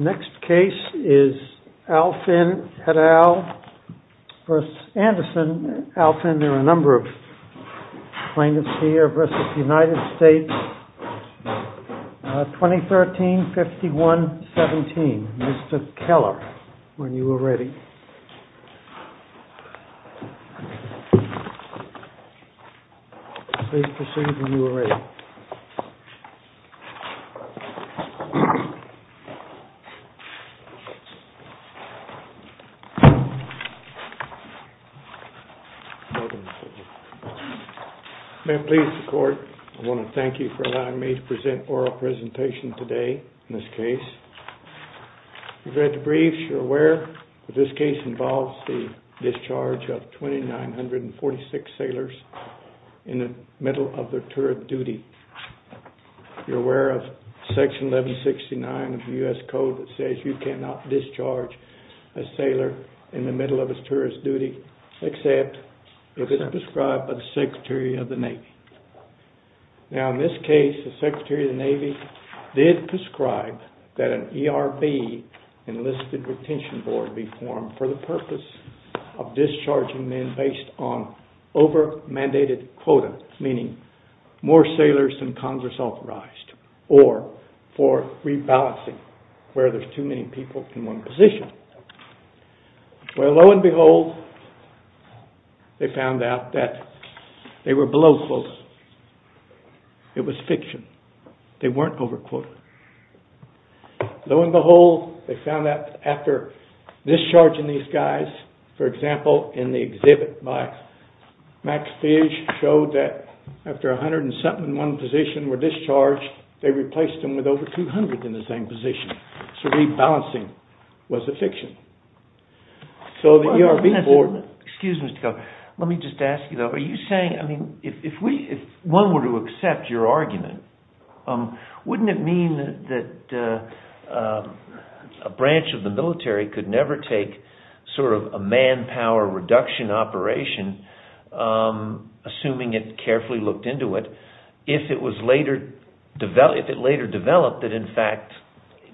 Let's go back. Alvin, there are a number of plaintiffs here versus the United States, 2013, 51, 17. Mr. Keller, when you were ready. May I please, the court, I want to thank you for allowing me to present oral presentation today in this case. You've read the briefs, you're aware that this case involves the discharge of 2946 sailors in the middle of their tourist duty. You're aware of Section 1169 of the U.S. Code that says you cannot discharge a sailor in the middle of his tourist duty except if it's prescribed by the Secretary of the Navy. Now, in this case, the Secretary of the Navy did prescribe that an ERB, Enlisted Retention Board, be formed for the purpose of discharging men based on over-mandated quota, meaning more sailors than Congress authorized, or for rebalancing where there's too many people in one position. Well, lo and behold, they found out that they were below quota. It was fiction. They weren't over quota. Lo and behold, they found out after discharging these guys, for example, in the exhibit by Max Fish showed that after a hundred and something in one position were discharged, they replaced them with over 200 in the same position. So rebalancing was a fiction. So the ERB board... Excuse me, Mr. Cohen. Let me just ask you, though. Are you saying, I mean, if one were to accept your argument, wouldn't it mean that a branch of the military could never take sort of a manpower reduction operation, assuming it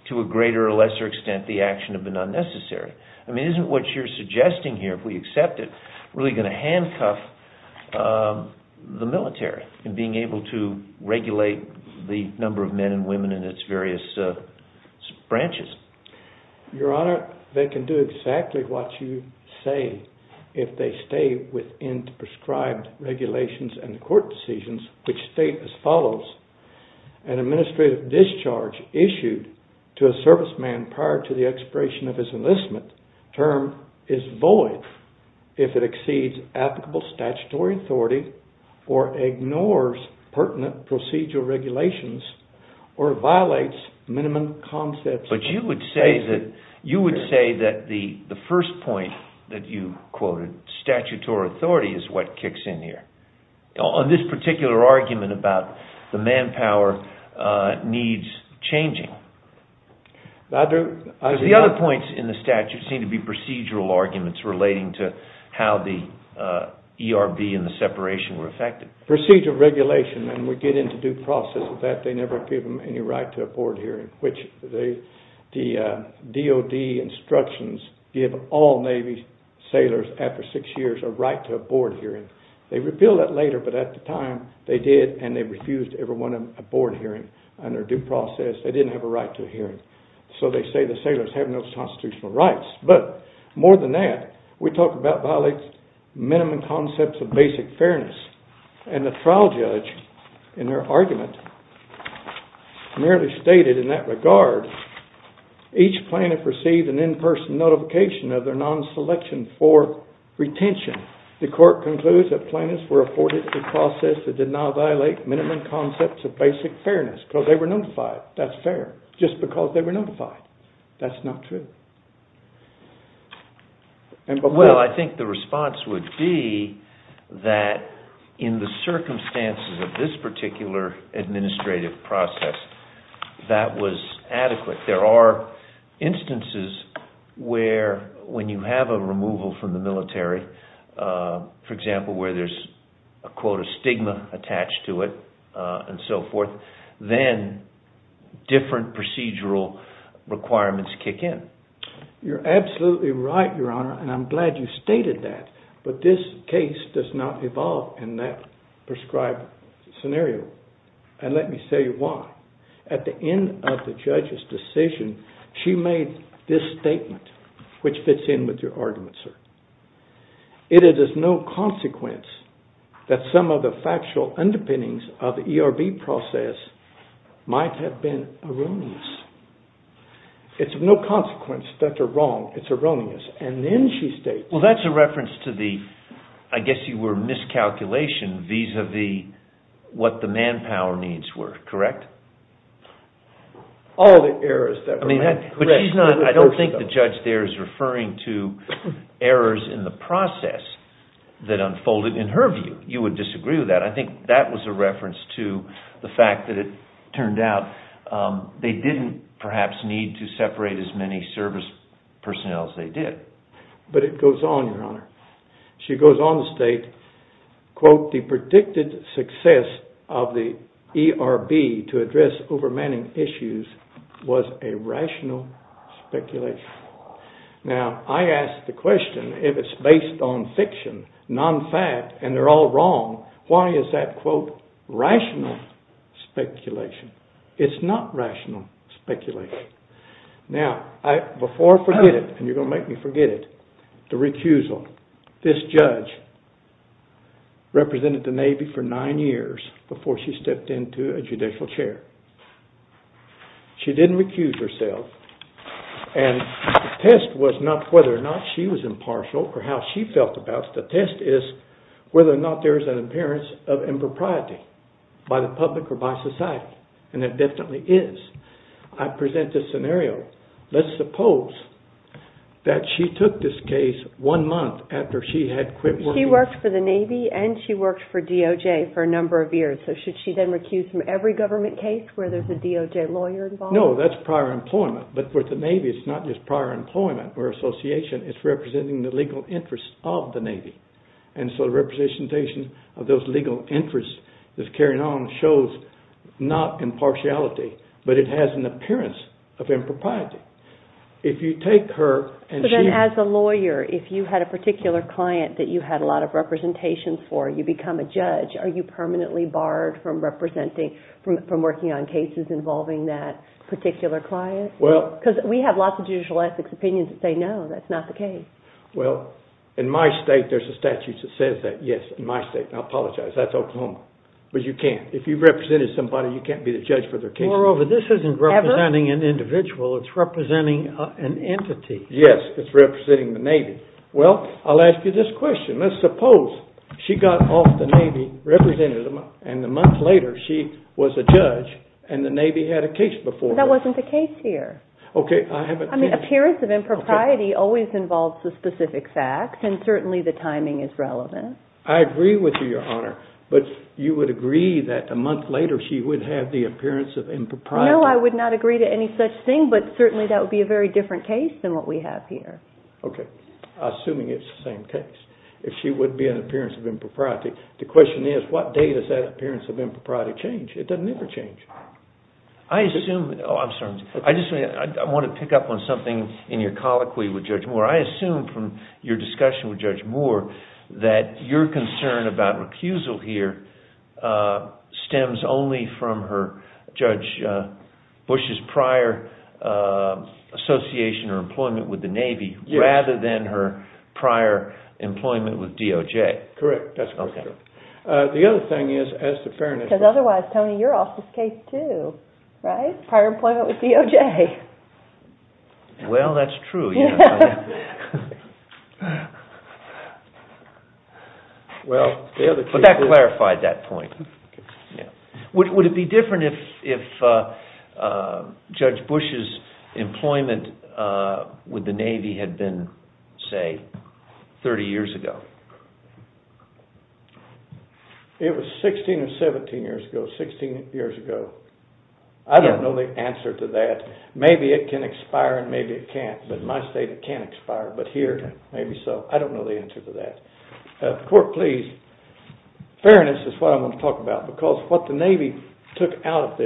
to a greater or lesser extent the action had been unnecessary? I mean, isn't what you're suggesting here, if we accept it, really going to handcuff the military in being able to regulate the number of men and women in its various branches? Your Honor, they can do exactly what you say if they stay within the prescribed regulations which state as follows, an administrative discharge issued to a serviceman prior to the expiration of his enlistment term is void if it exceeds applicable statutory authority or ignores pertinent procedural regulations or violates minimum concepts... But you would say that the first point that you quoted, statutory authority, is what kicks in here. On this particular argument about the manpower needs changing. The other points in the statute seem to be procedural arguments relating to how the ERB and the separation were affected. Procedural regulation, and we get into due process of that, they never give them any right to a board hearing, which the DOD instructions give all Navy sailors after six years a right to a board hearing. They repeal that later, but at the time they did and they refused everyone a board hearing under due process. They didn't have a right to a hearing. So they say the sailors have no constitutional rights. But more than that, we talk about violates minimum concepts of basic fairness. And the trial judge in their argument merely stated in that regard, each plaintiff received an in-person notification of their non-selection for retention. The court concludes that plaintiffs were afforded due process that did not violate minimum concepts of basic fairness. Because they were notified. That's fair. Just because they were notified. That's not true. Well, I think the response would be that in the circumstances of this particular administrative process, that was adequate. There are instances where when you have a removal from the military, for example, where there's a quote, a stigma attached to it, and so forth, then different procedural requirements kick in. You're absolutely right, Your Honor. And I'm glad you stated that. But this case does not evolve in that prescribed scenario. And let me say why. At the end of the judge's decision, she made this statement, which fits in with your argument, sir. It is of no consequence that some of the factual underpinnings of the ERB process might have been erroneous. It's of no consequence that they're wrong. It's erroneous. And then she states… Well, that's a reference to the, I guess you were miscalculation vis-à-vis what the manpower needs were, correct? All the errors that were made. But she's not, I don't think the judge there is referring to errors in the process that unfolded in her view. You would disagree with that. I think that was a reference to the fact that it turned out they didn't perhaps need to separate as many service personnel as they did. But it goes on, your honor. She goes on to state, quote, the predicted success of the ERB to address overmanning issues was a rational speculation. Now, I ask the question, if it's based on fiction, non-fact, and they're all wrong, why is that, quote, rational speculation? It's not rational speculation. Now, before I forget it, and you're going to make me forget it, the recusal. This judge represented the Navy for nine years before she stepped into a judicial chair. She didn't recuse herself. And the test was not whether or not she was impartial or how she felt about it. The test is whether or not there is an appearance of impropriety by the public or by society. And there definitely is. I present this scenario. Let's suppose that she took this case one month after she had quit working. She worked for the Navy and she worked for DOJ for a number of years. So should she then recuse from every government case where there's a DOJ lawyer involved? No, that's prior employment. But with the Navy, it's not just prior employment or association. It's representing the legal interests of the Navy. And so the representation of those legal interests that's carried on shows not impartiality, but it has an appearance of impropriety. So then as a lawyer, if you had a particular client that you had a lot of representation for, you become a judge, are you permanently barred from representing, from working on cases involving that particular client? Because we have lots of judicial ethics opinions that say no, that's not the case. Well, in my state there's a statute that says that, yes, in my state. I apologize, that's Oklahoma. But you can't. If you've represented somebody, you can't be the judge for their case. Moreover, this isn't representing an individual. It's representing an entity. Yes, it's representing the Navy. Well, I'll ask you this question. Let's suppose she got off the Navy, represented, and a month later she was a judge and the Navy had a case before her. That wasn't the case here. Okay, I haven't seen it. I mean, appearance of impropriety always involves the specific facts, and certainly the timing is relevant. I agree with you, Your Honor. But you would agree that a month later she would have the appearance of impropriety? No, I would not agree to any such thing, but certainly that would be a very different case than what we have here. Okay. Assuming it's the same case. If she would be an appearance of impropriety, the question is what date does that appearance of impropriety change? It doesn't ever change. I assume, oh, I'm sorry. I just want to pick up on something in your colloquy with Judge Moore. I assume from your discussion with Judge Moore that your concern about recusal here stems only from Judge Bush's prior association or employment with the Navy rather than her prior employment with DOJ. Correct. That's correct. The other thing is, as the fairness of the court. Because otherwise, Tony, you're off this case too, right? Prior employment with DOJ. Well, that's true. But that clarified that point. Would it be different if Judge Bush's employment with the Navy had been, say, 30 years ago? It was 16 or 17 years ago, 16 years ago. I don't know the answer to that. Maybe it can expire and maybe it can't. In my state, it can't expire. But here, maybe so. I don't know the answer to that. Court, please. Fairness is what I want to talk about. Because what the Navy took out of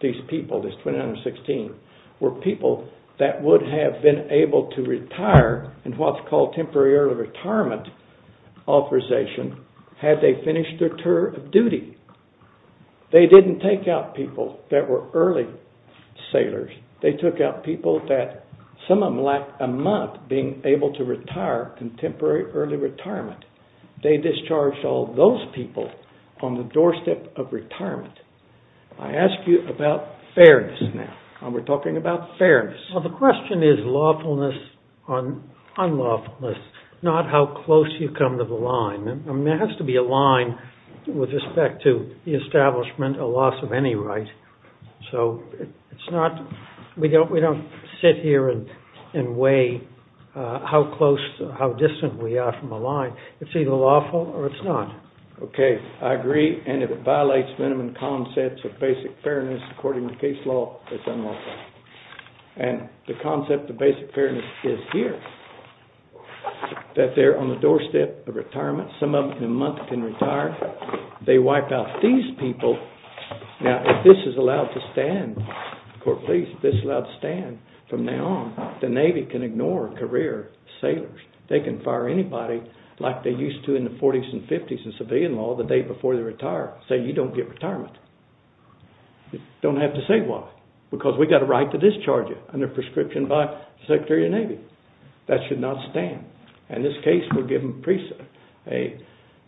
these people, this 2016, were people that would have been able to retire in what's called temporary early retirement authorization had they finished their tour of duty. They didn't take out people that were early sailors. They took out people that, some of them lacked a month being able to retire, contemporary early retirement. They discharged all those people on the doorstep of retirement. I ask you about fairness now. We're talking about fairness. Well, the question is lawfulness, unlawfulness, not how close you come to the line. I mean, there has to be a line with respect to the establishment, a loss of any right. So it's not, we don't sit here and weigh how close, how distant we are from the line. It's either lawful or it's not. Okay, I agree. And if it violates minimum concepts of basic fairness, according to case law, it's unlawful. And the concept of basic fairness is here, that they're on the doorstep of retirement. Some of them in a month can retire. They wipe out these people. Now, if this is allowed to stand, the court of police, if this is allowed to stand from now on, the Navy can ignore career sailors. They can fire anybody like they used to in the 40s and 50s in civilian law the day before they retire, saying you don't get retirement. You don't have to say why, because we've got a right to discharge you under prescription by the Secretary of the Navy. That should not stand. In this case, we're giving a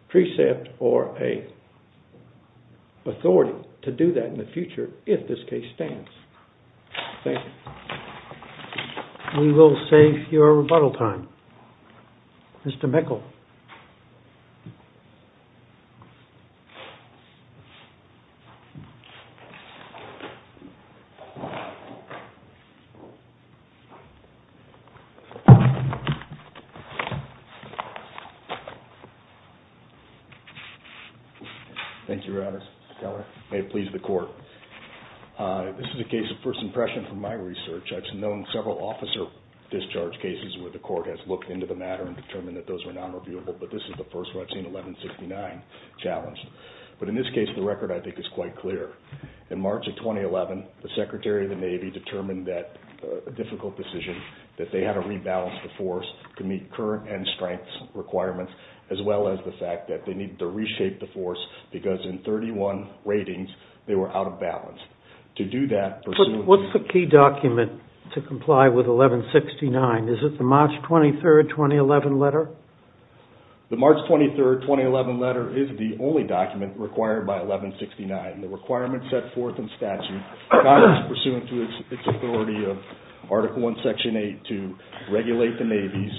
precept or a authority to do that in the future if this case stands. Thank you. We will save your rebuttal time. Mr. Meikle. Thank you, Your Honor. Mr. Keller. May it please the court. This is a case of first impression from my research. I've known several officer discharge cases where the court has looked into the matter and determined that those were nonreviewable, but this is the first where I've seen 1169 challenged. But in this case, the record, I think, is quite clear. In March of 2011, the Secretary of the Navy determined that a difficult decision, that they had a requirement to rebalance the force to meet current and strengths requirements, as well as the fact that they needed to reshape the force because in 31 ratings, they were out of balance. To do that, pursuant to... What's the key document to comply with 1169? Is it the March 23, 2011 letter? The March 23, 2011 letter is the only document required by 1169. The requirement set forth in statute, Congress, pursuant to its authority of Article I, Section 8, to regulate the navies,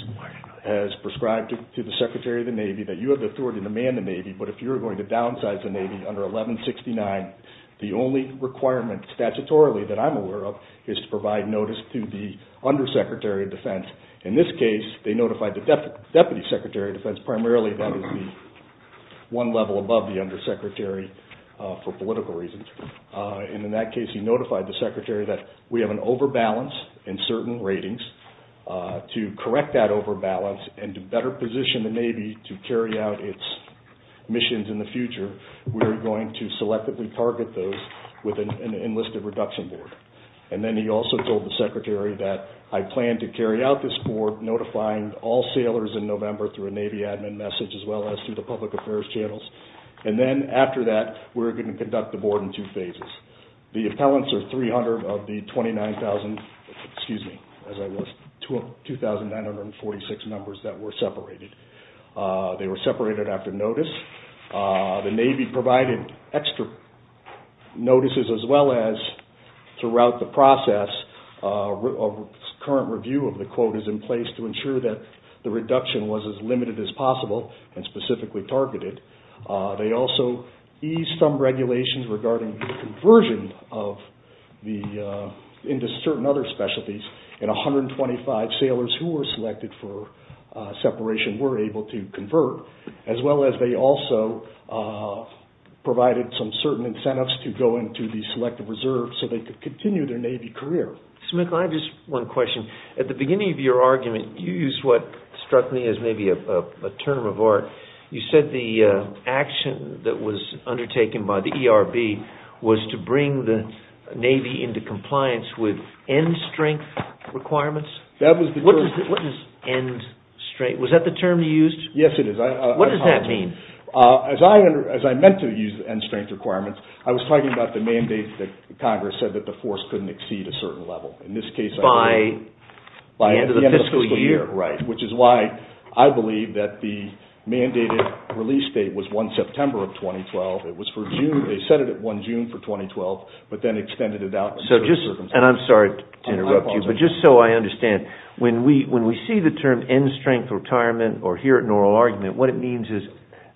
has prescribed to the Secretary of the Navy that you have the authority to man the navy, but if you're going to downsize the navy under 1169, the only requirement statutorily that I'm aware of is to provide notice to the Undersecretary of Defense. In this case, they notified the Deputy Secretary of Defense. Primarily, that is the one level above the Undersecretary for political reasons. In that case, he notified the Secretary that we have an overbalance in certain ratings. To correct that overbalance and to better position the navy to carry out its missions in the future, we are going to selectively target those with an enlisted reduction board. Then he also told the Secretary that I plan to carry out this board notifying all sailors in November through a navy admin message, as well as through the public affairs channels. Then after that, we're going to conduct the board in two phases. The appellants are 300 of the 29,000, excuse me, 2,946 numbers that were separated. They were separated after notice. The navy provided extra notices, as well as throughout the process, a current review of the quotas in place to ensure that the reduction was as limited as possible and specifically targeted. They also eased some regulations regarding the conversion into certain other specialties, and 125 sailors who were selected for separation were able to convert, as well as they also provided some certain incentives to go into the Selective Reserve so they could continue their navy career. Mr. McClellan, I have just one question. At the beginning of your argument, you used what struck me as maybe a term of art. You said the action that was undertaken by the ERB was to bring the navy into compliance with end-strength requirements. What is end-strength? Was that the term you used? Yes, it is. What does that mean? As I meant to use end-strength requirements, I was talking about the mandate that Congress said that the force couldn't exceed a certain level. By the end of the fiscal year. Right. Which is why I believe that the mandated release date was 1 September of 2012. It was for June. They set it at 1 June for 2012, but then extended it out. I'm sorry to interrupt you, but just so I understand, when we see the term end-strength retirement or hear it in an oral argument, what it means is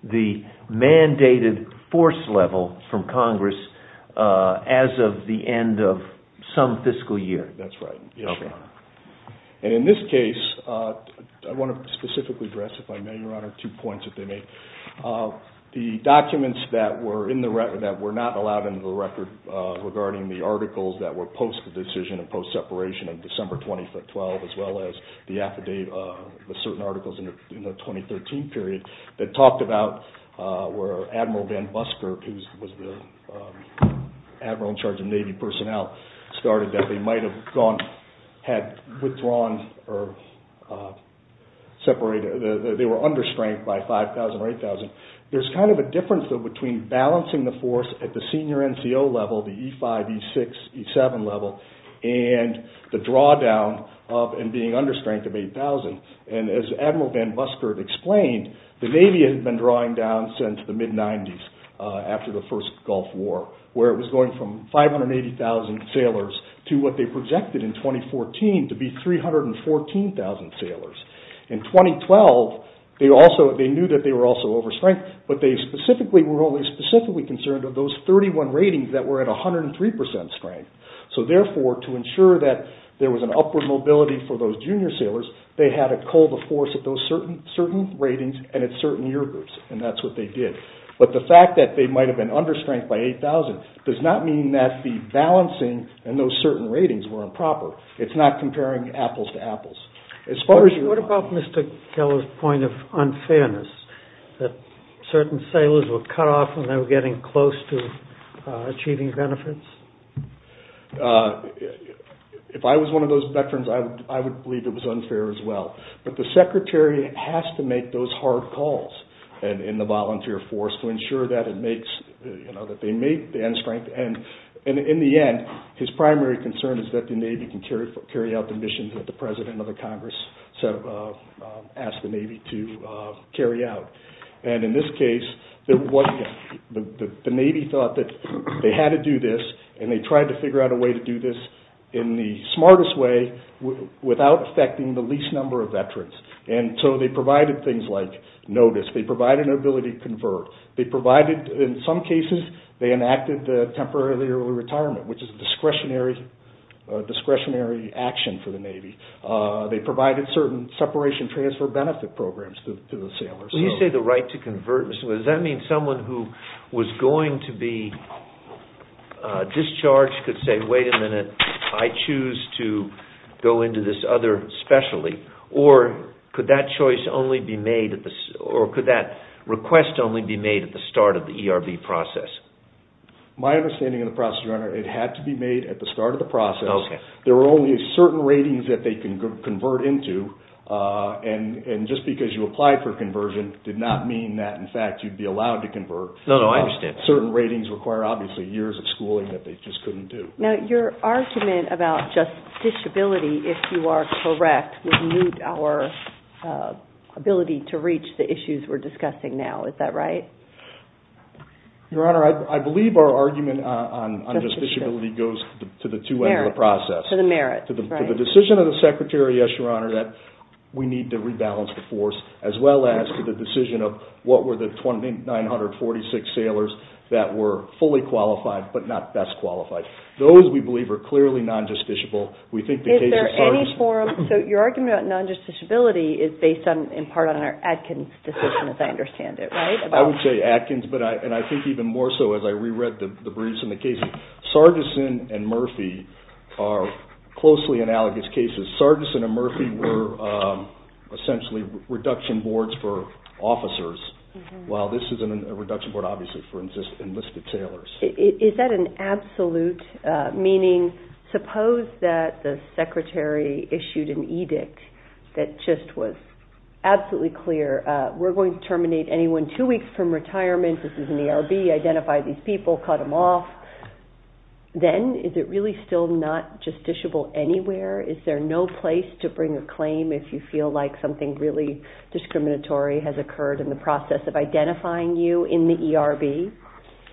the mandated force level from Congress as of the end of some fiscal year. That's right. In this case, I want to specifically address, if I may, Your Honor, two points that they make. The documents that were not allowed under the record regarding the articles that were post-decision and post-separation in December 2012 as well as the affidavit, the certain articles in the 2013 period that talked about where Admiral Van Buskirk, who was the admiral in charge of navy personnel, started that they might have withdrawn or separated. They were understrength by 5,000 or 8,000. There's kind of a difference between balancing the force at the senior NCO level, the E5, E6, E7 level, and the drawdown of being understrength of 8,000. As Admiral Van Buskirk explained, the navy had been drawing down since the mid-'90s after the first Gulf War, where it was going from 580,000 sailors to what they projected in 2014 to be 314,000 sailors. In 2012, they knew that they were also overstrength, but they were only specifically concerned with those 31 ratings that were at 103% strength. Therefore, to ensure that there was an upward mobility for those junior sailors, they had to cull the force at those certain ratings and at certain year groups, and that's what they did. But the fact that they might have been understrength by 8,000 does not mean that the balancing in those certain ratings were improper. It's not comparing apples to apples. What about Mr. Keller's point of unfairness, that certain sailors were cut off when they were getting close to achieving benefits? If I was one of those veterans, I would believe it was unfair as well. But the secretary has to make those hard calls in the volunteer force to ensure that they make the end strength. In the end, his primary concern is that the Navy can carry out the missions that the President of the Congress asked the Navy to carry out. In this case, the Navy thought that they had to do this, and they tried to figure out a way to do this in the smartest way without affecting the least number of veterans. And so they provided things like notice. They provided an ability to convert. They provided, in some cases, they enacted the Temporary Early Retirement, which is a discretionary action for the Navy. They provided certain separation transfer benefit programs to the sailors. When you say the right to convert, does that mean someone who was going to be discharged could say, wait a minute, I choose to go into this other specialty, or could that request only be made at the start of the ERB process? My understanding of the process, Your Honor, it had to be made at the start of the process. There were only certain ratings that they could convert into, and just because you applied for conversion did not mean that, in fact, you'd be allowed to convert. No, no, I understand that. Certain ratings require, obviously, years of schooling that they just couldn't do. Now, your argument about justiciability, if you are correct, would mute our ability to reach the issues we're discussing now. Is that right? Your Honor, I believe our argument on justiciability goes to the two ends of the process. To the merits, right. To the decision of the Secretary, yes, Your Honor, that we need to rebalance the force, as well as to the decision of what were the 946 sailors that were fully qualified but not best qualified. Those, we believe, are clearly non-justiciable. Is there any forum? So your argument about non-justiciability is based in part on our Atkins decision, as I understand it, right? I would say Atkins, and I think even more so as I re-read the briefs and the cases. Sargison and Murphy are closely analogous cases. Sargison and Murphy were essentially reduction boards for officers, while this is a reduction board, obviously, for enlisted sailors. Is that an absolute meaning? Suppose that the Secretary issued an edict that just was absolutely clear. We're going to terminate anyone two weeks from retirement. This is an ERB. Identify these people. Cut them off. Then is it really still not justiciable anywhere? Is there no place to bring a claim if you feel like something really discriminatory has occurred in the process of identifying you in the ERB?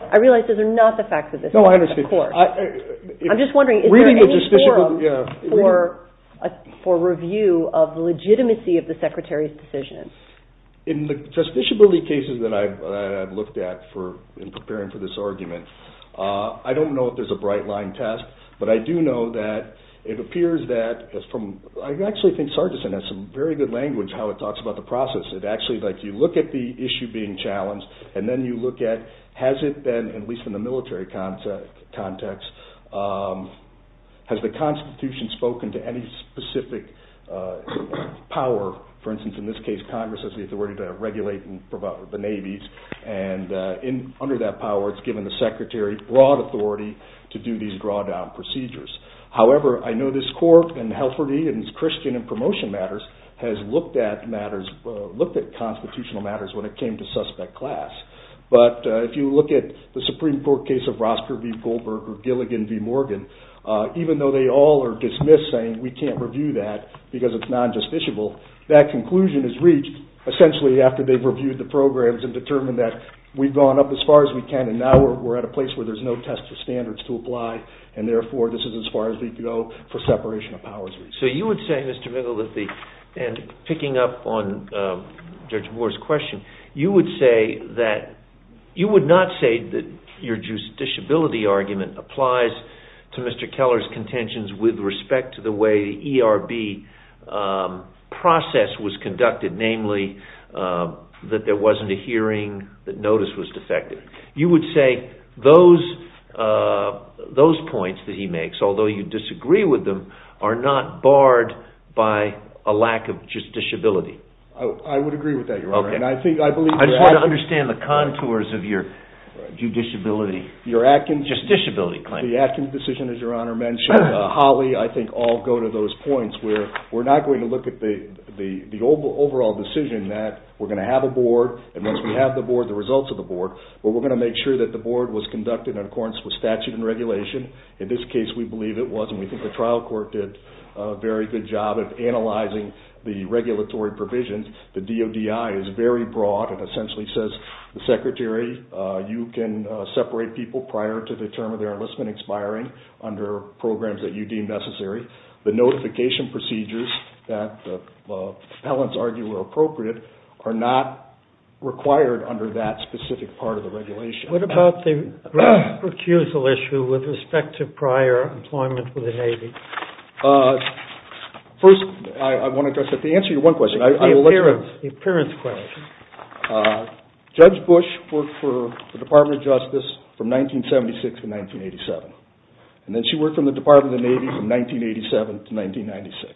I realize those are not the facts of this case. No, I understand. Of course. I'm just wondering, is there any forum for review of the legitimacy of the Secretary's decision? In the justiciability cases that I've looked at in preparing for this argument, I don't know if there's a bright line test, but I do know that it appears that, I actually think Sargison has some very good language how it talks about the process. You look at the issue being challenged, and then you look at, has it been, at least in the military context, has the Constitution spoken to any specific power? For instance, in this case, Congress has the authority to regulate and provide the navies. Under that power, it's given the Secretary broad authority to do these drawdown procedures. However, I know this court, and Helferty and his Christian in promotion matters, has looked at constitutional matters when it came to suspect class. But if you look at the Supreme Court case of Rosker v. Goldberg or Gilligan v. Morgan, even though they all are dismissed saying we can't review that because it's non-justiciable, that conclusion is reached essentially after they've reviewed the programs and determined that we've gone up as far as we can, and now we're at a place where there's no test of standards to apply, and therefore this is as far as we can go for separation of powers. So you would say, Mr. Bigelow, that the, and picking up on Judge Moore's question, you would say that, you would not say that your justiciability argument applies to Mr. Keller's contentions with respect to the way the ERB process was conducted, namely that there wasn't a hearing, that notice was defective. You would say those points that he makes, although you disagree with them, are not barred by a lack of justiciability. I would agree with that, Your Honor. I just want to understand the contours of your justiciability claim. The Atkins decision, as Your Honor mentioned, Holly, I think all go to those points where we're not going to look at the overall decision that we're going to have a board, and once we have the board, the results of the board, but we're going to make sure that the board was conducted in accordance with statute and regulation. In this case, we believe it was, and we think the trial court did a very good job of analyzing the regulatory provisions. The DODI is very broad and essentially says, the Secretary, you can separate people prior to the term of their enlistment expiring under programs that you deem necessary. The notification procedures that the appellants argue were appropriate are not required under that specific part of the regulation. What about the recusal issue with respect to prior employment with the Navy? First, I want to address that. To answer your one question. The appearance question. Judge Bush worked for the Department of Justice from 1976 to 1987, and then she worked for the Department of the Navy from 1987 to 1996,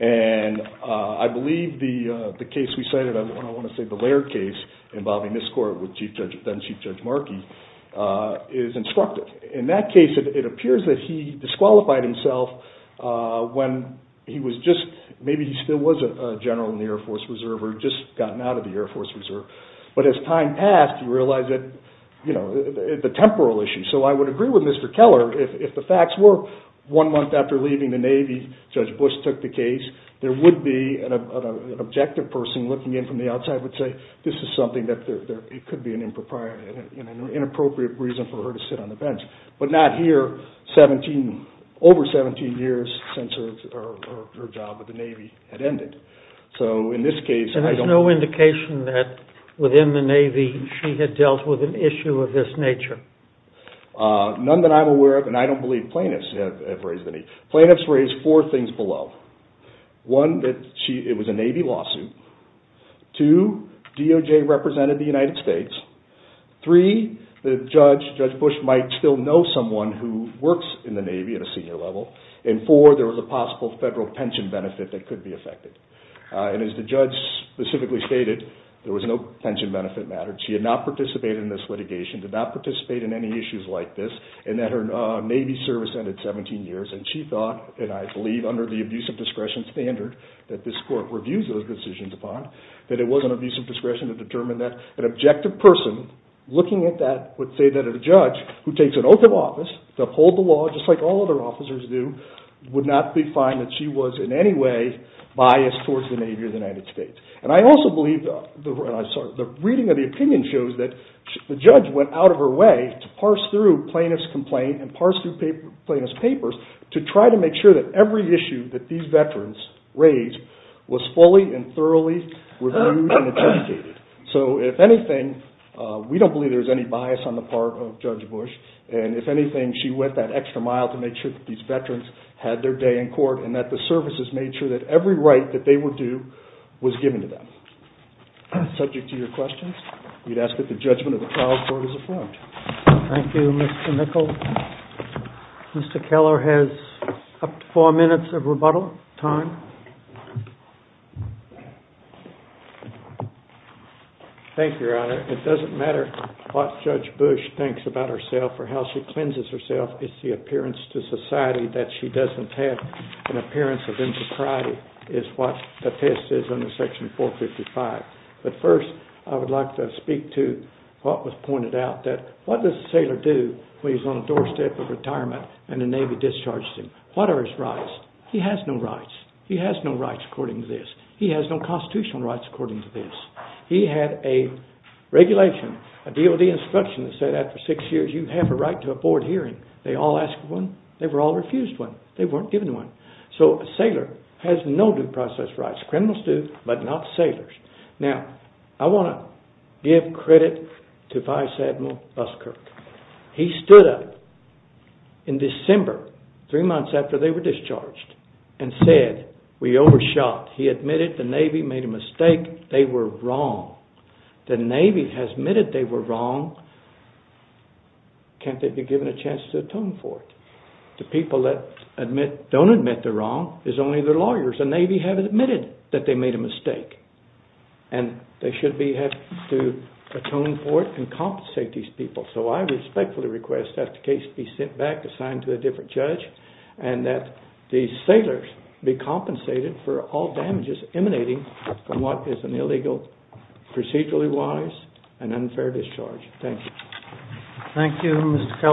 and I believe the case we cited, I want to say the Laird case, involving this court with then Chief Judge Markey, is instructive. In that case, it appears that he disqualified himself when he was just, maybe he still was a general in the Air Force Reserve, or had just gotten out of the Air Force Reserve. But as time passed, he realized that, you know, the temporal issue. So I would agree with Mr. Keller, if the facts were one month after leaving the Navy, Judge Bush took the case, there would be an objective person looking in from the outside that would say this is something that could be an inappropriate reason for her to sit on the bench. But not here, over 17 years since her job with the Navy had ended. And there's no indication that within the Navy she had dealt with an issue of this nature? None that I'm aware of, and I don't believe plaintiffs have raised any. Plaintiffs raised four things below. One, that it was a Navy lawsuit. Two, DOJ represented the United States. Three, that Judge Bush might still know someone who works in the Navy at a senior level. And four, there was a possible federal pension benefit that could be affected. And as the judge specifically stated, there was no pension benefit matter. She had not participated in this litigation, did not participate in any issues like this, and that her Navy service ended 17 years. And she thought, and I believe under the abuse of discretion standard, that this court reviews those decisions upon, that it was an abuse of discretion to determine that an objective person looking at that would say that a judge who takes an oath of office to uphold the law, just like all other officers do, would not find that she was in any way biased towards the Navy or the United States. And I also believe the reading of the opinion shows that the judge went out of her way to parse through plaintiff's complaint and parse through plaintiff's papers to try to make sure that every issue that these veterans raised was fully and thoroughly reviewed and investigated. So if anything, we don't believe there's any bias on the part of Judge Bush. And if anything, she went that extra mile to make sure that these veterans had their day in court and that the services made sure that every right that they were due was given to them. Subject to your questions, we'd ask that the judgment of the trials court is affirmed. Thank you, Mr. Mickel. Mr. Keller has up to four minutes of rebuttal time. Thank you, Your Honor. It doesn't matter what Judge Bush thinks about herself or how she cleanses herself. It's the appearance to society that she doesn't have an appearance of insocriety is what the test is under Section 455. But first, I would like to speak to what was pointed out, that what does a sailor do when he's on the doorstep of retirement and the Navy discharges him? What are his rights? He has no rights. He has no rights according to this. He has no constitutional rights according to this. He had a regulation, a DOD instruction that said after six years, you have a right to a board hearing. They all asked for one. They were all refused one. They weren't given one. So a sailor has no due process rights. Criminals do, but not sailors. Now, I want to give credit to Vice Admiral Buskirk. He stood up in December, three months after they were discharged, and said, we overshot. He admitted the Navy made a mistake. They were wrong. The Navy has admitted they were wrong. Can't they be given a chance to atone for it? The people that don't admit they're wrong is only their lawyers. The Navy has admitted that they made a mistake, and they should have to atone for it and compensate these people. So I respectfully request that the case be sent back, assigned to a different judge, and that these sailors be compensated for all damages emanating from what is an illegal, procedurally wise, and unfair discharge. Thank you. Thank you, Mr. Kelly.